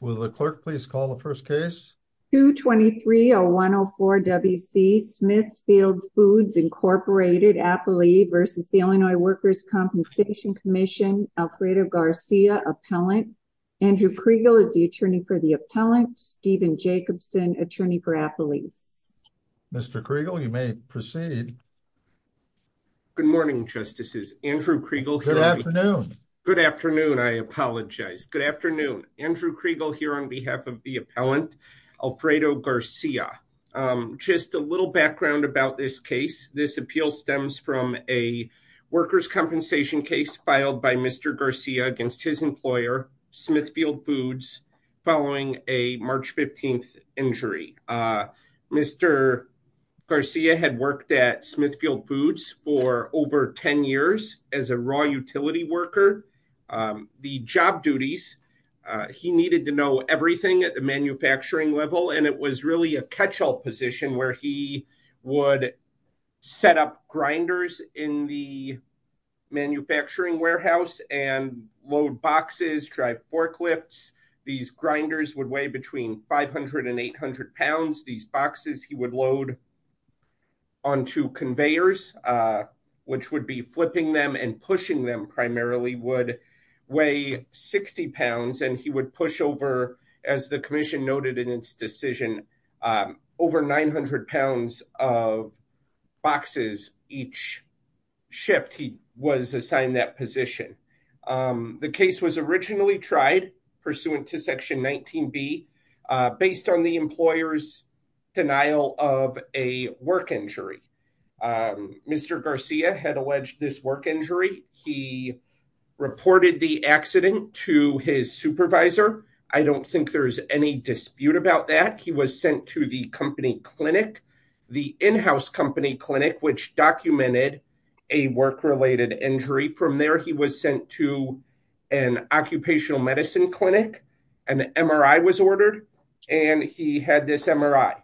Will the clerk please call the first case? 2230104 W.C. Smithfield Foods, Inc. Appley v. Illinois Workers' Compensation Comm'n. Alfredo Garcia, Appellant. Andrew Kriegel is the attorney for the appellant. Steven Jacobson, attorney for Appley. Mr. Kriegel, you may proceed. Good morning, Justices. Andrew Kriegel. Good afternoon. Good afternoon. I apologize. Good afternoon. Andrew Kriegel here on behalf of the appellant, Alfredo Garcia. Just a little background about this case. This appeal stems from a workers' compensation case filed by Mr. Garcia against his employer, Smithfield Foods, following a March 15th injury. Mr. Garcia had worked at Smithfield Foods for over 10 years as a raw utility worker. The job duties, he needed to know everything at the manufacturing level, and it was really a catch-all position where he would set up grinders in the manufacturing warehouse and load boxes, drive forklifts. These grinders would weigh between 500 and 800 pounds. These boxes he would load onto conveyors, which would be flipping them and pushing them would weigh 60 pounds, and he would push over, as the commission noted in its decision, over 900 pounds of boxes each shift he was assigned that position. The case was originally tried, pursuant to Section 19B, based on the employer's denial of a work injury. Mr. Garcia had alleged this work injury. He reported the accident to his supervisor. I don't think there's any dispute about that. He was sent to the company clinic, the in-house company clinic, which documented a work-related injury. From there, he was sent to an occupational medicine clinic. An MRI was ordered, and he had this MRI.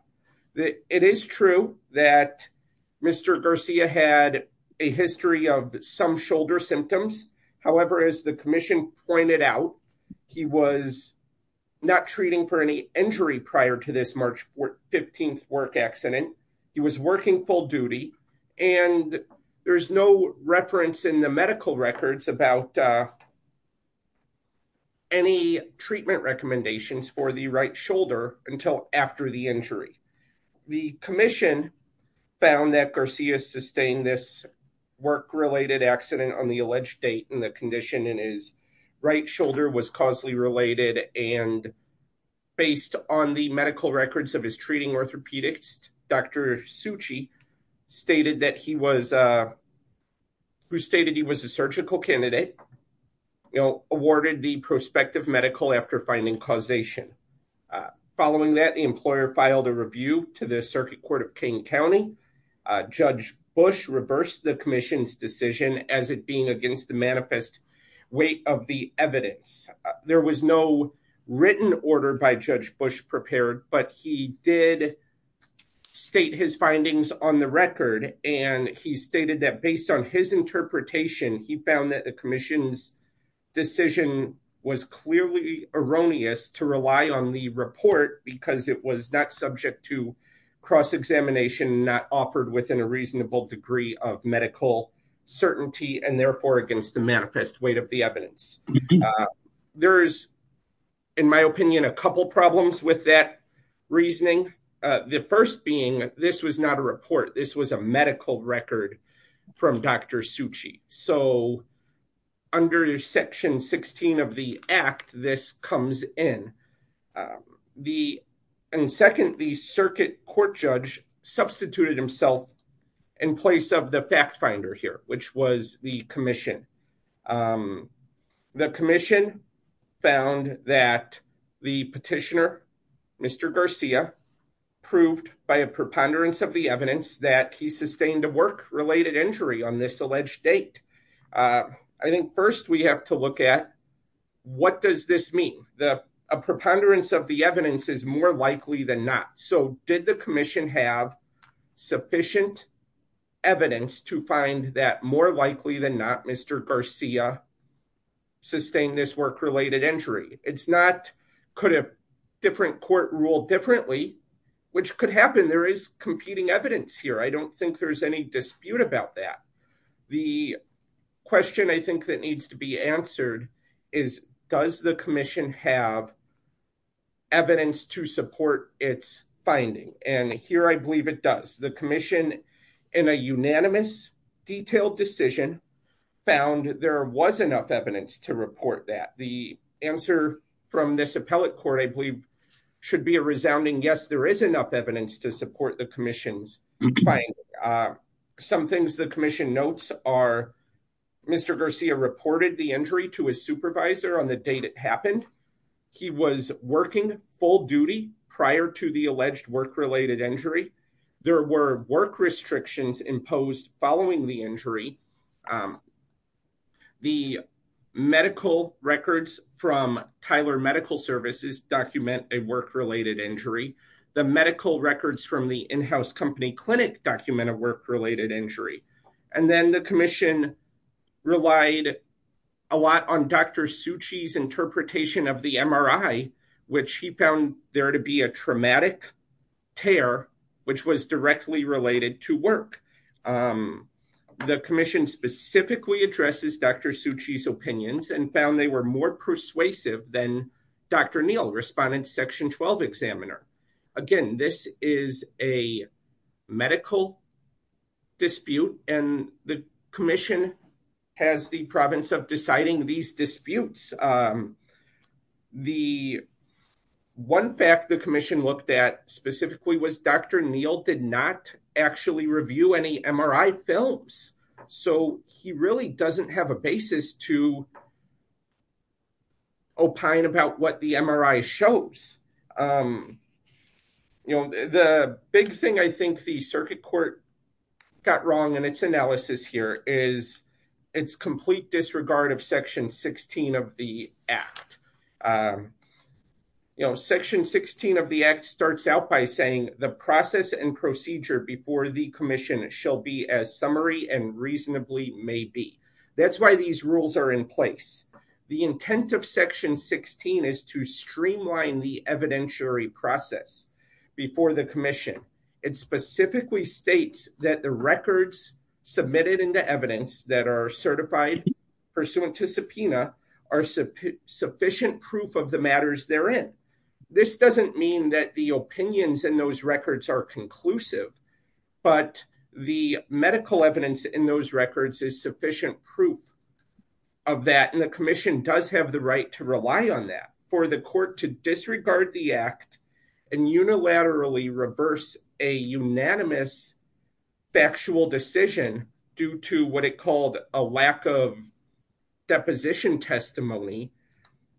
It is true that Mr. Garcia had a history of some shoulder symptoms. However, as the commission pointed out, he was not treating for any injury prior to this March 15th work accident. He was working full duty, and there's no reference in the medical records about any treatment recommendations for the right shoulder until after the injury. The commission found that Garcia sustained this work-related accident on the alleged date, and the condition in his right shoulder was causally related. And based on the medical records of his treating orthopedist, Dr. Succi, who stated he was a awarded the prospective medical after finding causation. Following that, the employer filed a review to the circuit court of King County. Judge Bush reversed the commission's decision as it being against the manifest weight of the evidence. There was no written order by Judge Bush prepared, but he did state his findings on the record. And he stated that based on his interpretation, he found that the commission's decision was clearly erroneous to rely on the report because it was not subject to cross-examination, not offered within a reasonable degree of medical certainty, and therefore against the manifest weight of the evidence. There is, in my opinion, a couple problems with that reasoning. The first being, this was not a report. This was a medical record from Dr. Succi. So under section 16 of the act, this comes in. And second, the circuit court judge substituted himself in place of the fact finder here, which was the commission. The commission found that the petitioner, Mr. Garcia, proved by a preponderance of the evidence that he sustained a work-related injury on this alleged date. I think first we have to look at what does this mean? A preponderance of the evidence is more likely than not. So did the commission have sufficient evidence to find that more likely than not, Mr. Garcia sustained this work-related injury? It's not could a different court rule differently, which could happen. There is competing evidence here. I don't think there's any dispute about that. The question I think that needs to be answered is, does the commission have evidence to support its finding? And here I believe it does. The commission, in a unanimous, detailed decision, found there was enough evidence to report that. The answer from this appellate court, I believe, should be a resounding, yes, there is enough evidence to support the commission's finding. Some things the commission notes are Mr. Garcia reported the injury to his supervisor on the date it happened. He was working full duty prior to the alleged work-related injury. There were work restrictions imposed following the injury. The medical records from Tyler Medical Services document a work-related injury. The medical records from the in-house company clinic document a work-related injury. And then the commission relied a lot on Dr. Suchi's interpretation of the MRI, which he found there to be a traumatic tear, which was directly related to work. The commission specifically addresses Dr. Suchi's opinions and found they were more persuasive than Dr. Neal, respondent section 12 examiner. Again, this is a medical dispute and the commission has the province of deciding these disputes. One fact the commission looked at specifically was Dr. Neal did not actually review any MRI films. So he really doesn't have a basis to opine about what the MRI shows. The big thing I think the circuit court got wrong in its analysis here is its complete disregard of section 16 of the act. Section 16 of the act starts out by saying the process and procedure before the commission shall be as summary and reasonably may be. That's why these rules are in place. The intent of section 16 is to streamline the evidentiary process before the commission. It specifically states that the records submitted into evidence that are certified pursuant to subpoena are sufficient proof of the matters therein. This doesn't mean that the opinions in those records are conclusive, but the medical evidence in those records is sufficient proof of that. And the commission does have the right to rely on that. For the court to disregard the act and unilaterally reverse a unanimous factual decision due to what it called a lack of deposition testimony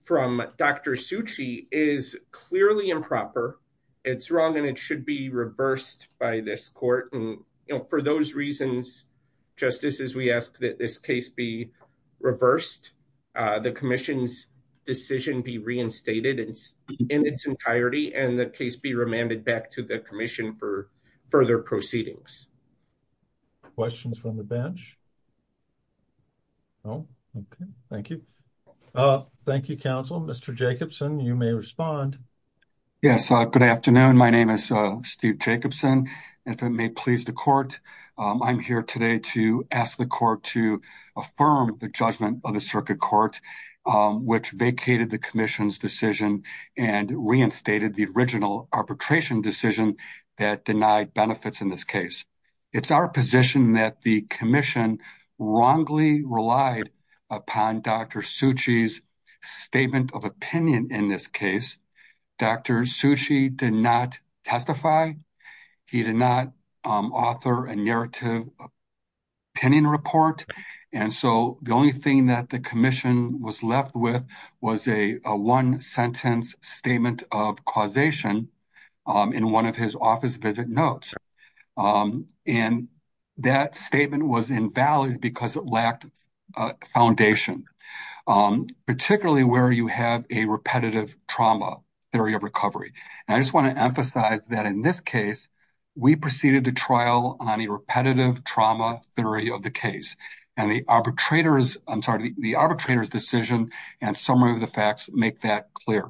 from Dr. Suchi is clearly improper. It's wrong and it should be reversed by this court. For those reasons, just as we ask that this case be reversed, the commission's decision be reinstated in its entirety and the case be remanded back to the commission for further proceedings. Questions from the bench? No? Okay, thank you. Thank you, counsel. Mr. Jacobson, you may respond. Yes, good afternoon. My name is Steve Jacobson. If it may please the court, I'm here today to ask the court to affirm the judgment of the circuit court, which vacated the commission's decision and reinstated the original arbitration decision that denied benefits in this case. It's our position that the commission wrongly relied upon Dr. Suchi's statement of opinion in this case. Dr. Suchi did not testify. He did not author a narrative opinion report. And so the only thing that the commission was left with was a one-sentence statement of causation in one of his office visit notes. And that statement was invalid because it lacked a foundation, particularly where you have a repetitive trauma theory of recovery. And I just want to emphasize that in this case, we proceeded to trial on a repetitive trauma theory of the case. And the arbitrator's decision and summary of the facts make that clear.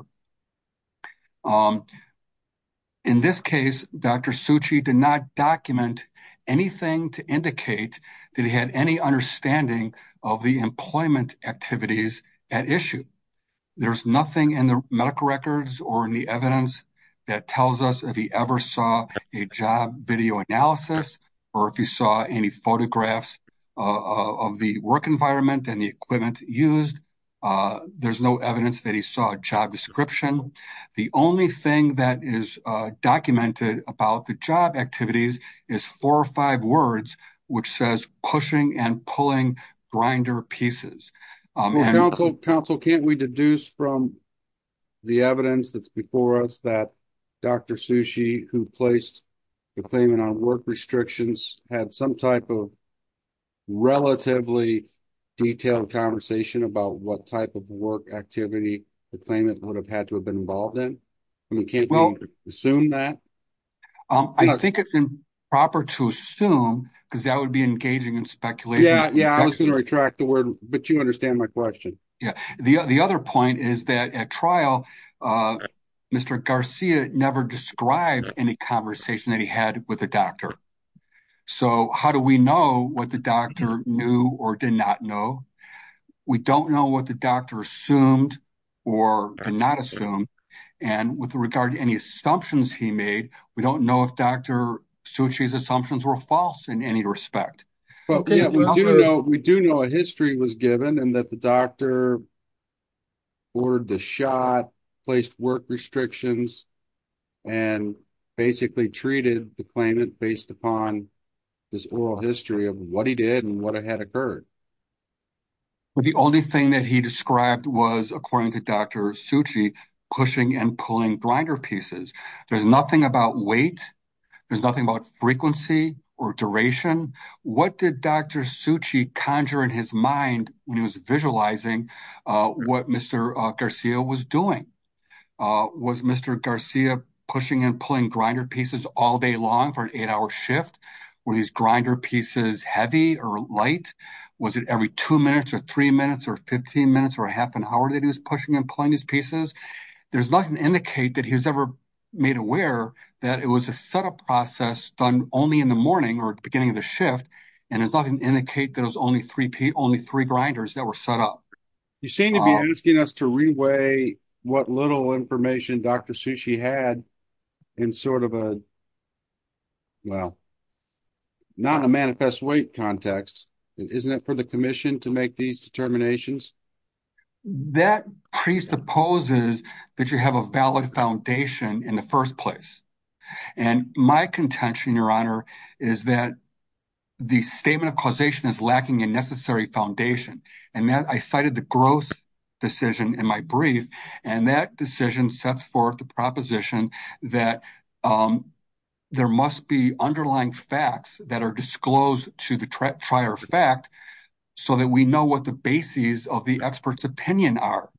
In this case, Dr. Suchi did not document anything to indicate that he had any understanding of the employment activities at issue. There's nothing in the medical records or in the evidence that tells us if he ever saw a job video analysis or if he saw any photographs of the work environment and the equipment used. There's no evidence that he saw a job description. The only thing that is documented about the job activities is four or five words, which says pushing and pulling grinder pieces. Well, counsel, counsel, can't we deduce from the evidence that's before us that Dr. Suchi, who placed the claimant on work restrictions, had some type of relatively detailed conversation about what type of work activity the claimant would have had to have been involved in? I mean, can't we assume that? I think it's improper to assume because that would be engaging in speculation. Yeah, I was going to retract the word, but you understand my question. Yeah. The other point is that at trial, Mr. Garcia never described any conversation that he had with a doctor. So how do we know what the doctor knew or did not know? We don't know what the doctor assumed or did not assume. And with regard to any assumptions he made, we don't know if Dr. Suchi's assumptions were false in any respect. Yeah, we do know a history was given and that the doctor ordered the shot, placed work restrictions, and basically treated the claimant based upon this oral history of what he did and what had occurred. The only thing that he described was, according to Dr. Suchi, pushing and pulling grinder pieces. There's nothing about weight. There's nothing about frequency or duration. What did Dr. Suchi conjure in his mind when he was visualizing what Mr. Garcia was doing? Was Mr. Garcia pushing and pulling grinder pieces all day long for an eight-hour shift? Were these grinder pieces heavy or light? Was it every two minutes or three minutes or 15 minutes or half an hour that he was pushing and pulling these pieces? There's nothing to indicate that he was ever made aware that it was a setup process done only in the morning or at the beginning of the shift, and there's nothing to indicate that it was only three grinders that were set up. You seem to be asking us to re-weigh what little information Dr. Suchi had in sort of a, well, not a manifest weight context. Isn't it for the commission to make these determinations? That presupposes that you have a valid foundation in the first place. And my contention, Your Honor, is that the statement of causation is lacking a necessary foundation. And I cited the growth decision in my brief, and that decision sets forth the proposition that there must be underlying facts that are disclosed to the prior fact so that we know what the bases of the expert's opinion are.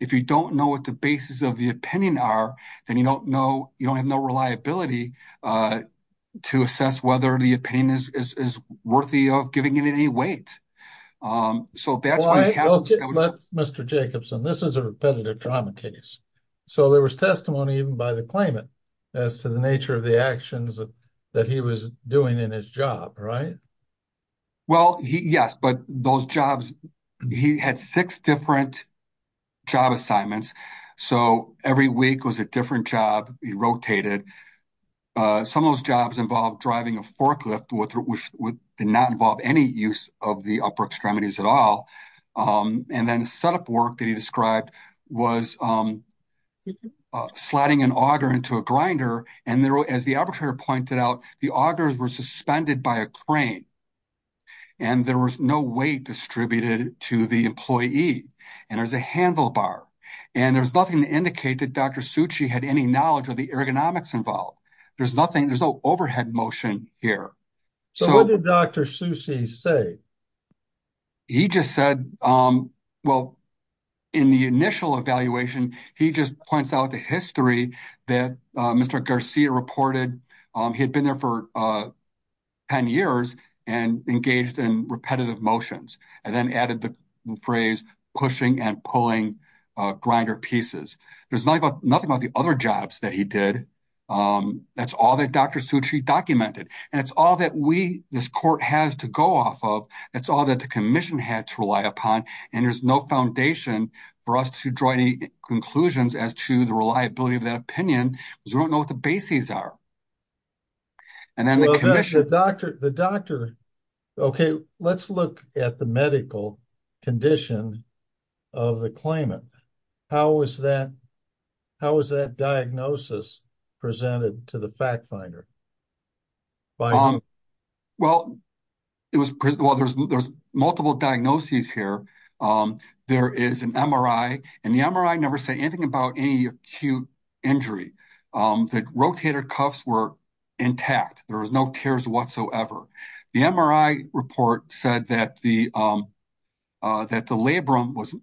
If you don't know what the bases of the opinion are, then you don't know, you don't have no reliability to assess whether the opinion is worthy of giving it any weight. So that's why— Well, Mr. Jacobson, this is a repetitive trauma case. So there was testimony even by the claimant as to the nature of the actions that he was doing in his job, right? Well, yes, but those jobs, he had six different job assignments. So every week was a different job. He rotated. Some of those jobs involved driving a forklift, which did not involve any use of the upper extremities at all. And then the setup work that he described was sliding an auger into a grinder. And as the arbitrator pointed out, the augers were suspended by a crane, and there was no weight distributed to the employee. And there's a handlebar. And there's nothing to indicate that Dr. Succi had any knowledge of the ergonomics involved. There's nothing, there's no overhead motion here. So what did Dr. Succi say? He just said, well, in the initial evaluation, he just points out the history that Mr. Sia reported. He had been there for 10 years and engaged in repetitive motions and then added the phrase pushing and pulling grinder pieces. There's nothing about the other jobs that he did. That's all that Dr. Succi documented. And it's all that we, this court has to go off of. That's all that the commission had to rely upon. And there's no foundation for us to draw any conclusions as to the reliability of that cases are. And then the commission. Well, the doctor, okay, let's look at the medical condition of the claimant. How was that? How was that diagnosis presented to the fact finder? Well, there's multiple diagnoses here. There is an MRI, and the MRI never say anything about any acute injury. The rotator cuffs were intact. There was no tears whatsoever. The MRI report said that the labrum was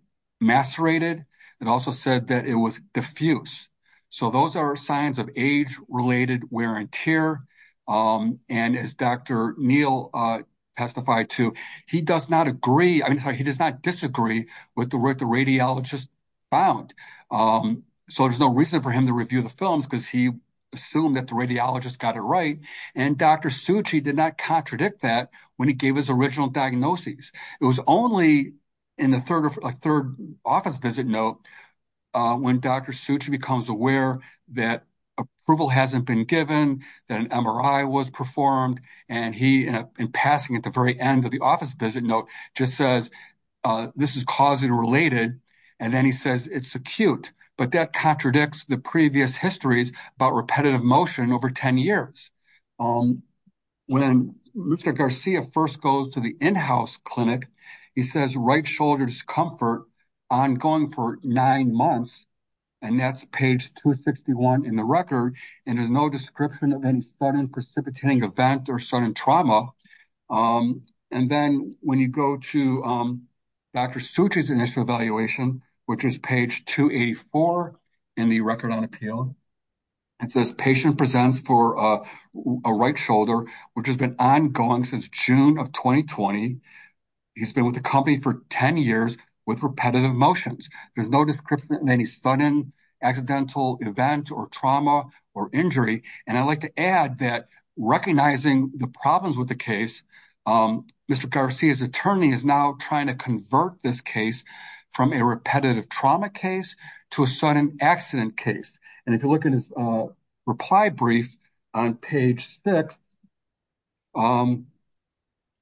macerated. It also said that it was diffuse. So those are signs of age related wear and tear. And as Dr. Neal testified to, he does not agree. I mean, he does not disagree with the radiologist found. So there's no reason for him to review the films because he assumed that the radiologist got it right. And Dr. Succi did not contradict that when he gave his original diagnoses. It was only in the third office visit note when Dr. Succi becomes aware that approval hasn't been given, that an MRI was performed. And he, in passing at the very end of the office visit note, just says, this is causally related. And then he says, it's acute. But that contradicts the previous histories about repetitive motion over 10 years. When Mr. Garcia first goes to the in-house clinic, he says, right shoulder discomfort ongoing for nine months. And that's page 261 in the record. And there's no description of any sudden precipitating event or sudden trauma. And then when you go to Dr. Succi's initial evaluation, which is page 284 in the record on appeal, it says, patient presents for a right shoulder, which has been ongoing since June of 2020. He's been with the company for 10 years with repetitive motions. There's no description of any sudden accidental event or trauma or injury. And I'd like to add that recognizing the problems with the case, Mr. Garcia's attorney is now trying to convert this case from a repetitive trauma case to a sudden accident case. And if you look at his reply brief on page six,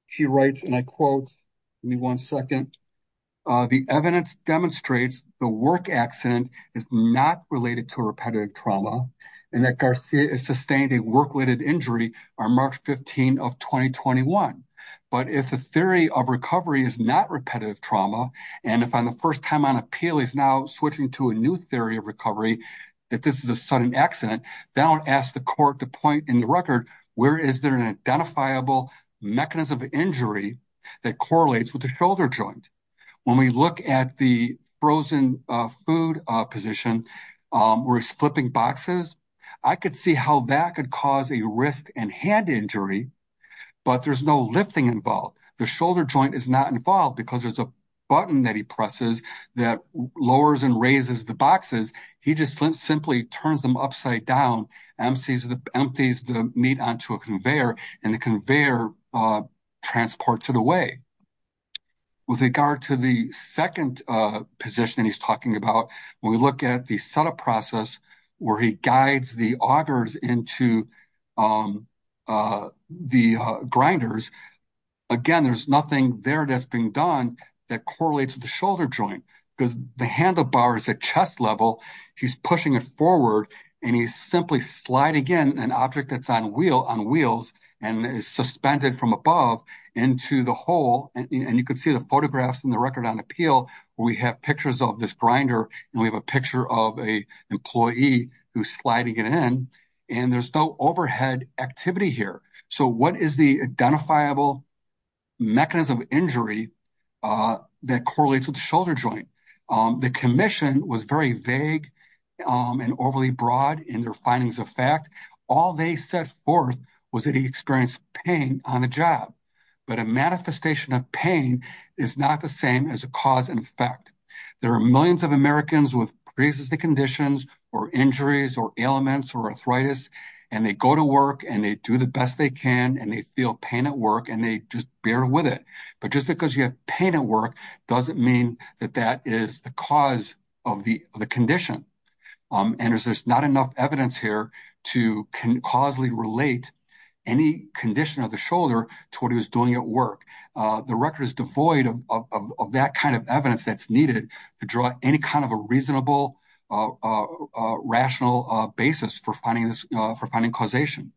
he writes, and I quote, give me one second, the evidence demonstrates the work accident is not related to a repetitive trauma. And that Garcia is sustained a work-related injury on March 15 of 2021. But if the theory of recovery is not repetitive trauma, and if on the first time on appeal, he's now switching to a new theory of recovery, that this is a sudden accident, then I'll ask the court to point in the record, where is there an identifiable mechanism of injury that correlates with the shoulder joint? When we look at the frozen food position, where he's flipping boxes, I could see how that could cause a wrist and hand injury, but there's no lifting involved. The shoulder joint is not involved because there's a button that he presses that lowers and raises the boxes. He just simply turns them upside down, empties the meat onto a conveyor, and the conveyor transports it away. With regard to the second position that he's talking about, when we look at the setup process where he guides the augers into the grinders, again, there's nothing there that's being done that correlates with the shoulder joint, because the handlebar is at chest level. He's pushing it forward, and he's simply sliding in an object that's on wheels and is suspended from above into the hole, and you can see the photographs in the Record on Appeal where we have pictures of this grinder, and we have a picture of an employee who's sliding it in, and there's no overhead activity here. So, what is the identifiable mechanism of injury that correlates with the shoulder joint? The commission was very vague and overly broad in their findings of fact. All they set forth was that he experienced pain on the job, but a manifestation of pain is not the same as a cause and effect. There are millions of Americans with pre-existing conditions or injuries or ailments or arthritis, and they go to work, and they do the best they can, and they feel pain at work, and they just bear with it. But just because you have pain at work doesn't mean that that is the cause of the condition, and there's not enough evidence here to causally relate any condition of the shoulder to what he was doing at work. The Record is devoid of that kind of evidence that's needed to draw any kind of a reasonable, rational basis for finding causation.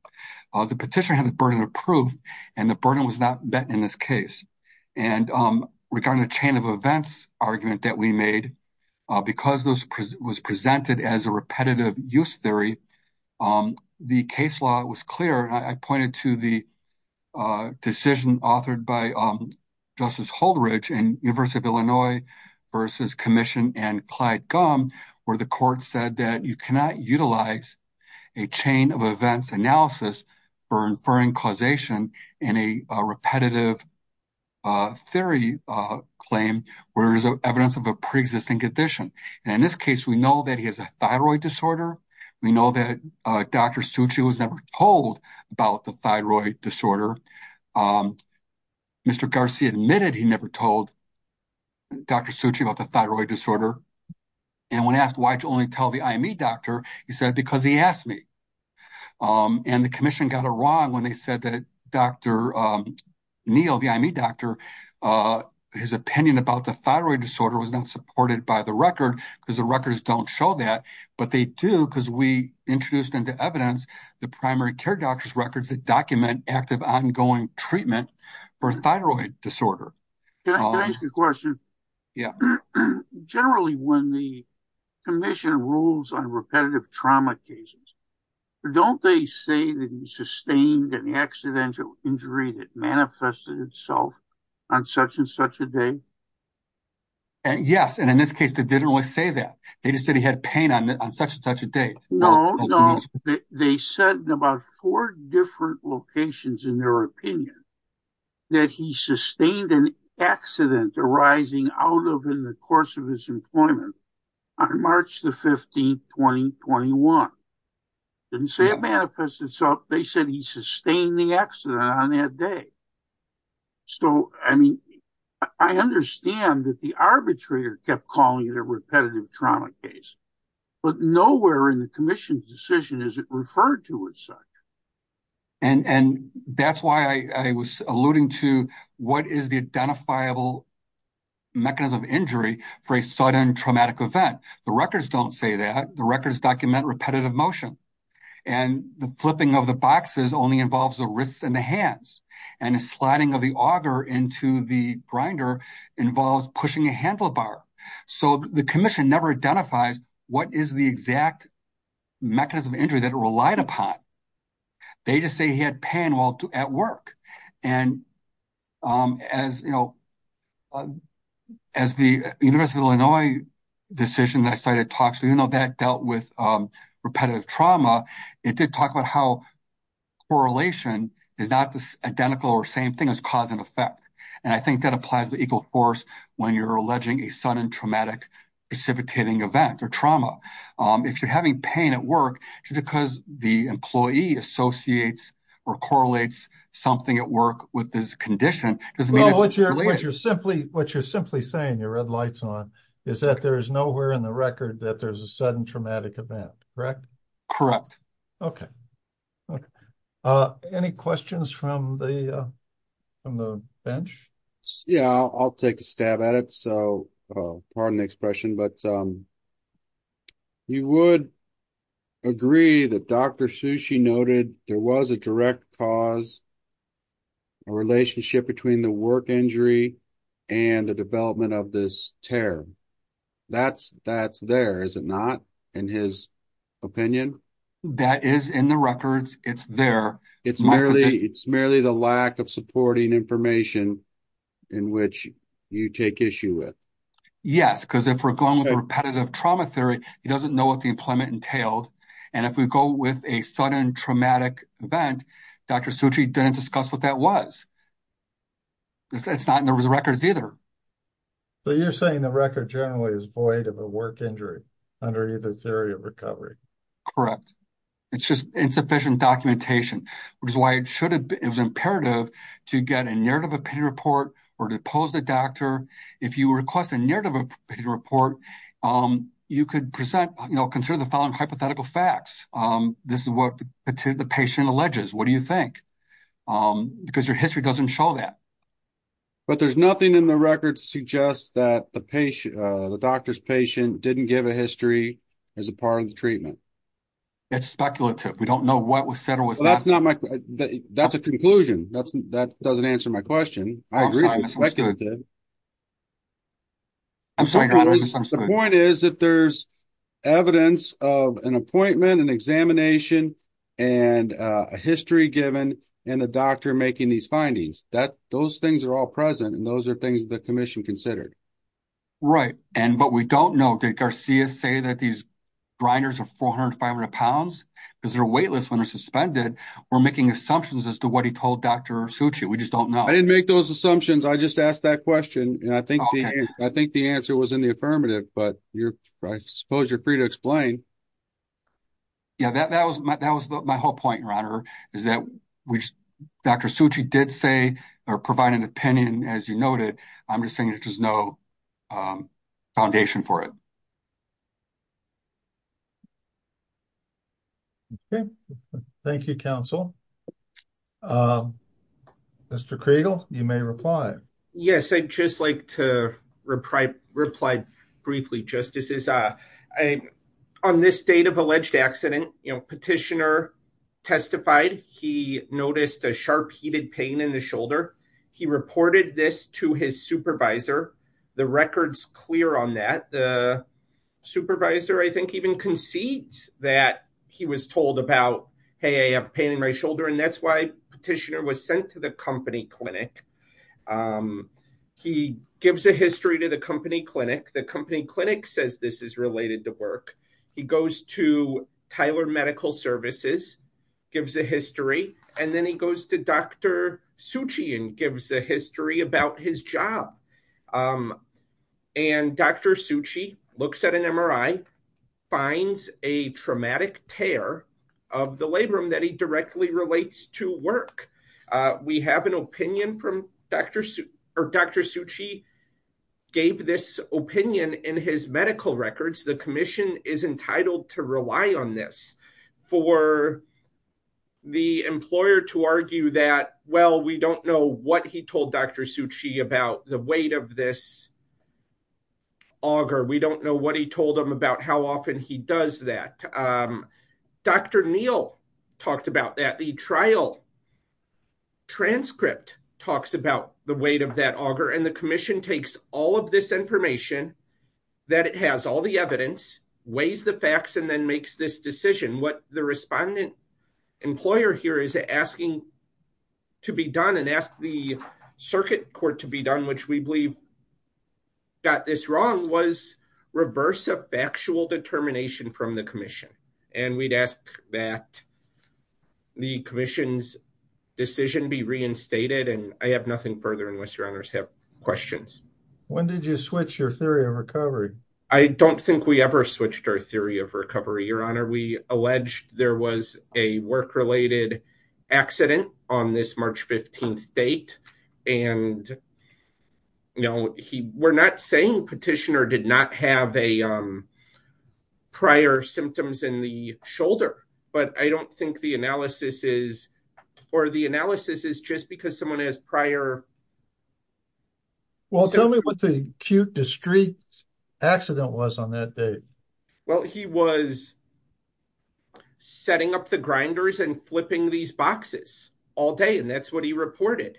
The petitioner had the burden of proof, and the burden was not met in this case. And regarding the chain of events argument that we made, because this was presented as a repetitive use theory, the case law was clear, and I pointed to the decision authored by Justice Holdridge in University of Illinois v. Commission and Clyde Gumm, where the court said that you cannot utilize a chain of events analysis for inferring causation in a repetitive theory claim where there's evidence of a pre-existing condition. And in this case, we know that he has a thyroid disorder. We know that Dr. Suchi was never told about the thyroid disorder. Mr. Garcia admitted he never told Dr. Suchi about the thyroid disorder. And when asked, why did you only tell the IME doctor, he said, because he asked me. And the commission got it wrong when they said that Dr. Neal, the IME doctor, his opinion about the thyroid disorder was not supported by the record, because the records don't show that. But they do, because we introduced into evidence the primary care doctor's records that document active, ongoing treatment for thyroid disorder. Can I ask a question? Yeah. Generally, when the commission rules on repetitive trauma cases, don't they say that he sustained an accidental injury that manifested itself on such and such a day? Yes. And in this case, they didn't really say that. They just said he had pain on such and such a day. No, no. They said in about four different locations in their opinion that he sustained an accident arising out of in the course of his employment on March the 15th, 2021. Didn't say it manifested itself. They said he sustained the accident on that day. So, I mean, I understand that the arbitrator kept calling it a repetitive trauma case, but nowhere in the commission's decision is it referred to as such. And that's why I was alluding to what is the identifiable mechanism of injury for a sudden traumatic event. The records don't say that. The records document repetitive motion. And the flipping of the boxes only involves the wrists and the hands. And the sliding of the auger into the grinder involves pushing a handlebar. So, the commission never identifies what is the exact mechanism of injury that it relied upon. They just say he had pain while at work. And as the University of Illinois decision that I cited talks to, even though that dealt with repetitive trauma, it did talk about how correlation is not the identical or same thing as cause and effect. And I think that applies to equal force when you're alleging a sudden traumatic precipitating event or trauma. If you're having pain at work, it's because the employee associates or correlates something at work with this condition. It doesn't mean it's related. Well, what you're simply saying, you're red lights on, is that there is nowhere in the record that there's a sudden traumatic event, correct? Correct. Okay. Okay. Any questions from the bench? Yeah, I'll take a stab at it. Pardon the expression, but you would agree that Dr. Sushi noted there was a direct cause, a relationship between the work injury and the development of this tear. That's there, is it not, in his opinion? That is in the records. It's there. It's merely the lack of supporting information in which you take issue with. Yes, because if we're going with repetitive trauma theory, he doesn't know what the employment entailed. And if we go with a sudden traumatic event, Dr. Sushi didn't discuss what that was. It's not in those records either. So, you're saying the record generally is void of a work injury under either theory of recovery. Correct. It's just insufficient documentation, which is why it was imperative to get a narrative opinion report or to oppose the doctor. If you request a narrative opinion report, you could consider the following hypothetical facts. This is what the patient alleges. What do you think? Because your history doesn't show that. But there's nothing in the records that suggests that the doctor's patient didn't give a history as a part of the treatment. It's speculative. We don't know what was said or was not. That's not my. That's a conclusion. That's that doesn't answer my question. I agree. I'm sorry, the point is that there's evidence of an appointment and examination and a history given and the doctor making these findings that those things are all present and those are things the commission considered. Right. And but we don't know. Did Garcia say that these grinders are 400, 500 pounds because they're weightless when they're suspended? We're making assumptions as to what he told Dr. Suchi. We just don't know. I didn't make those assumptions. I just asked that question and I think I think the answer was in the affirmative. But I suppose you're free to explain. Yeah, that was that was my whole point, your honor, is that which Dr. Suchi did say or provide an opinion, as you noted. I'm just saying there's no foundation for it. Thank you, counsel. Mr. Creagle, you may reply. Yes, I'd just like to reply. Reply briefly, justices. On this date of alleged accident, petitioner testified he noticed a sharp, heated pain in the shoulder. He reported this to his supervisor. The record's clear on that. The supervisor, I think, even concedes that he was told about, hey, I have pain in my shoulder. And that's why petitioner was sent to the company clinic. He gives a history to the company clinic. The company clinic says this is related to work. He goes to Tyler Medical Services, gives a history. And then he goes to Dr. Suchi and gives a history about his job. And Dr. Suchi looks at an MRI, finds a traumatic tear of the labrum that he directly relates to work. We have an opinion from Dr. Suchi gave this opinion in his medical records. The commission is entitled to rely on this for the employer to argue that, well, we don't know what he told Dr. Suchi about the weight of this auger. We don't know what he told him about how often he does that. Dr. Neal talked about that. The trial transcript talks about the weight of that auger. And the commission takes all of this information that it has all the evidence, weighs the facts and then makes this decision. What the respondent employer here is asking to be done and ask the circuit court to be done, which we believe got this wrong, was reverse a factual determination from the commission. And we'd ask that the commission's decision be reinstated. And I have nothing further unless your honors have questions. When did you switch your theory of recovery? I don't think we ever switched our theory of recovery, your honor. We alleged there was a work related accident on this March 15th date. And, you know, we're not saying petitioner did not have a prior symptoms in the shoulder. But I don't think the analysis is or the analysis is just because someone has prior. Well, tell me what the acute discrete accident was on that day. Well, he was setting up the grinders and flipping these boxes all day. And that's what he reported.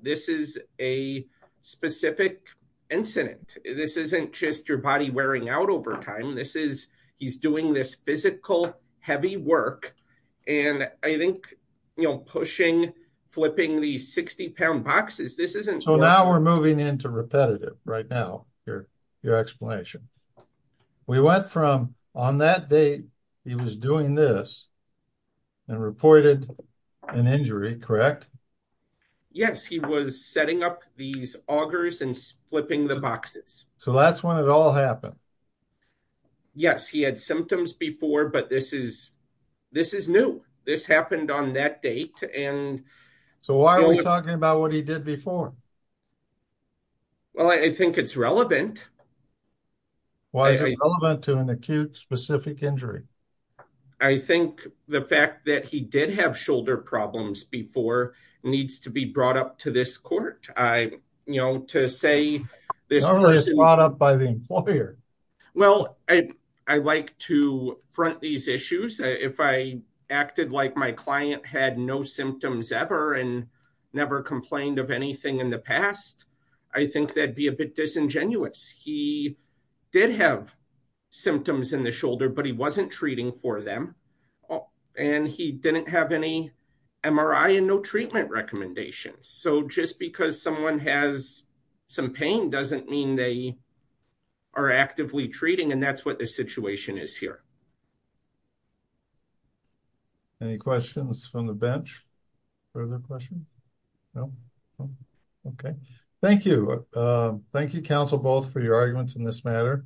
This is a specific incident. This isn't just your body wearing out over time. He's doing this physical, heavy work. And I think, you know, pushing, flipping the 60 pound boxes, this isn't. So now we're moving into repetitive right now, your explanation. We went from on that date, he was doing this and reported an injury, correct? Yes, he was setting up these augers and flipping the boxes. So that's when it all happened. Yes, he had symptoms before, but this is, this is new. This happened on that date. And so why are we talking about what he did before? Well, I think it's relevant. Why is it relevant to an acute specific injury? I think the fact that he did have shoulder problems before needs to be brought up to this court. I, you know, to say this brought up by the employer. Well, I, I like to front these issues. If I acted like my client had no symptoms ever and never complained of anything in the past, I think that'd be a bit disingenuous. He did have symptoms in the shoulder, but he wasn't treating for them. And he didn't have any MRI and no treatment recommendations. So just because someone has some pain doesn't mean they are actively treating and that's what the situation is here. Any questions from the bench? Further questions? Okay. Thank you. Thank you, counsel, both for your arguments in this matter.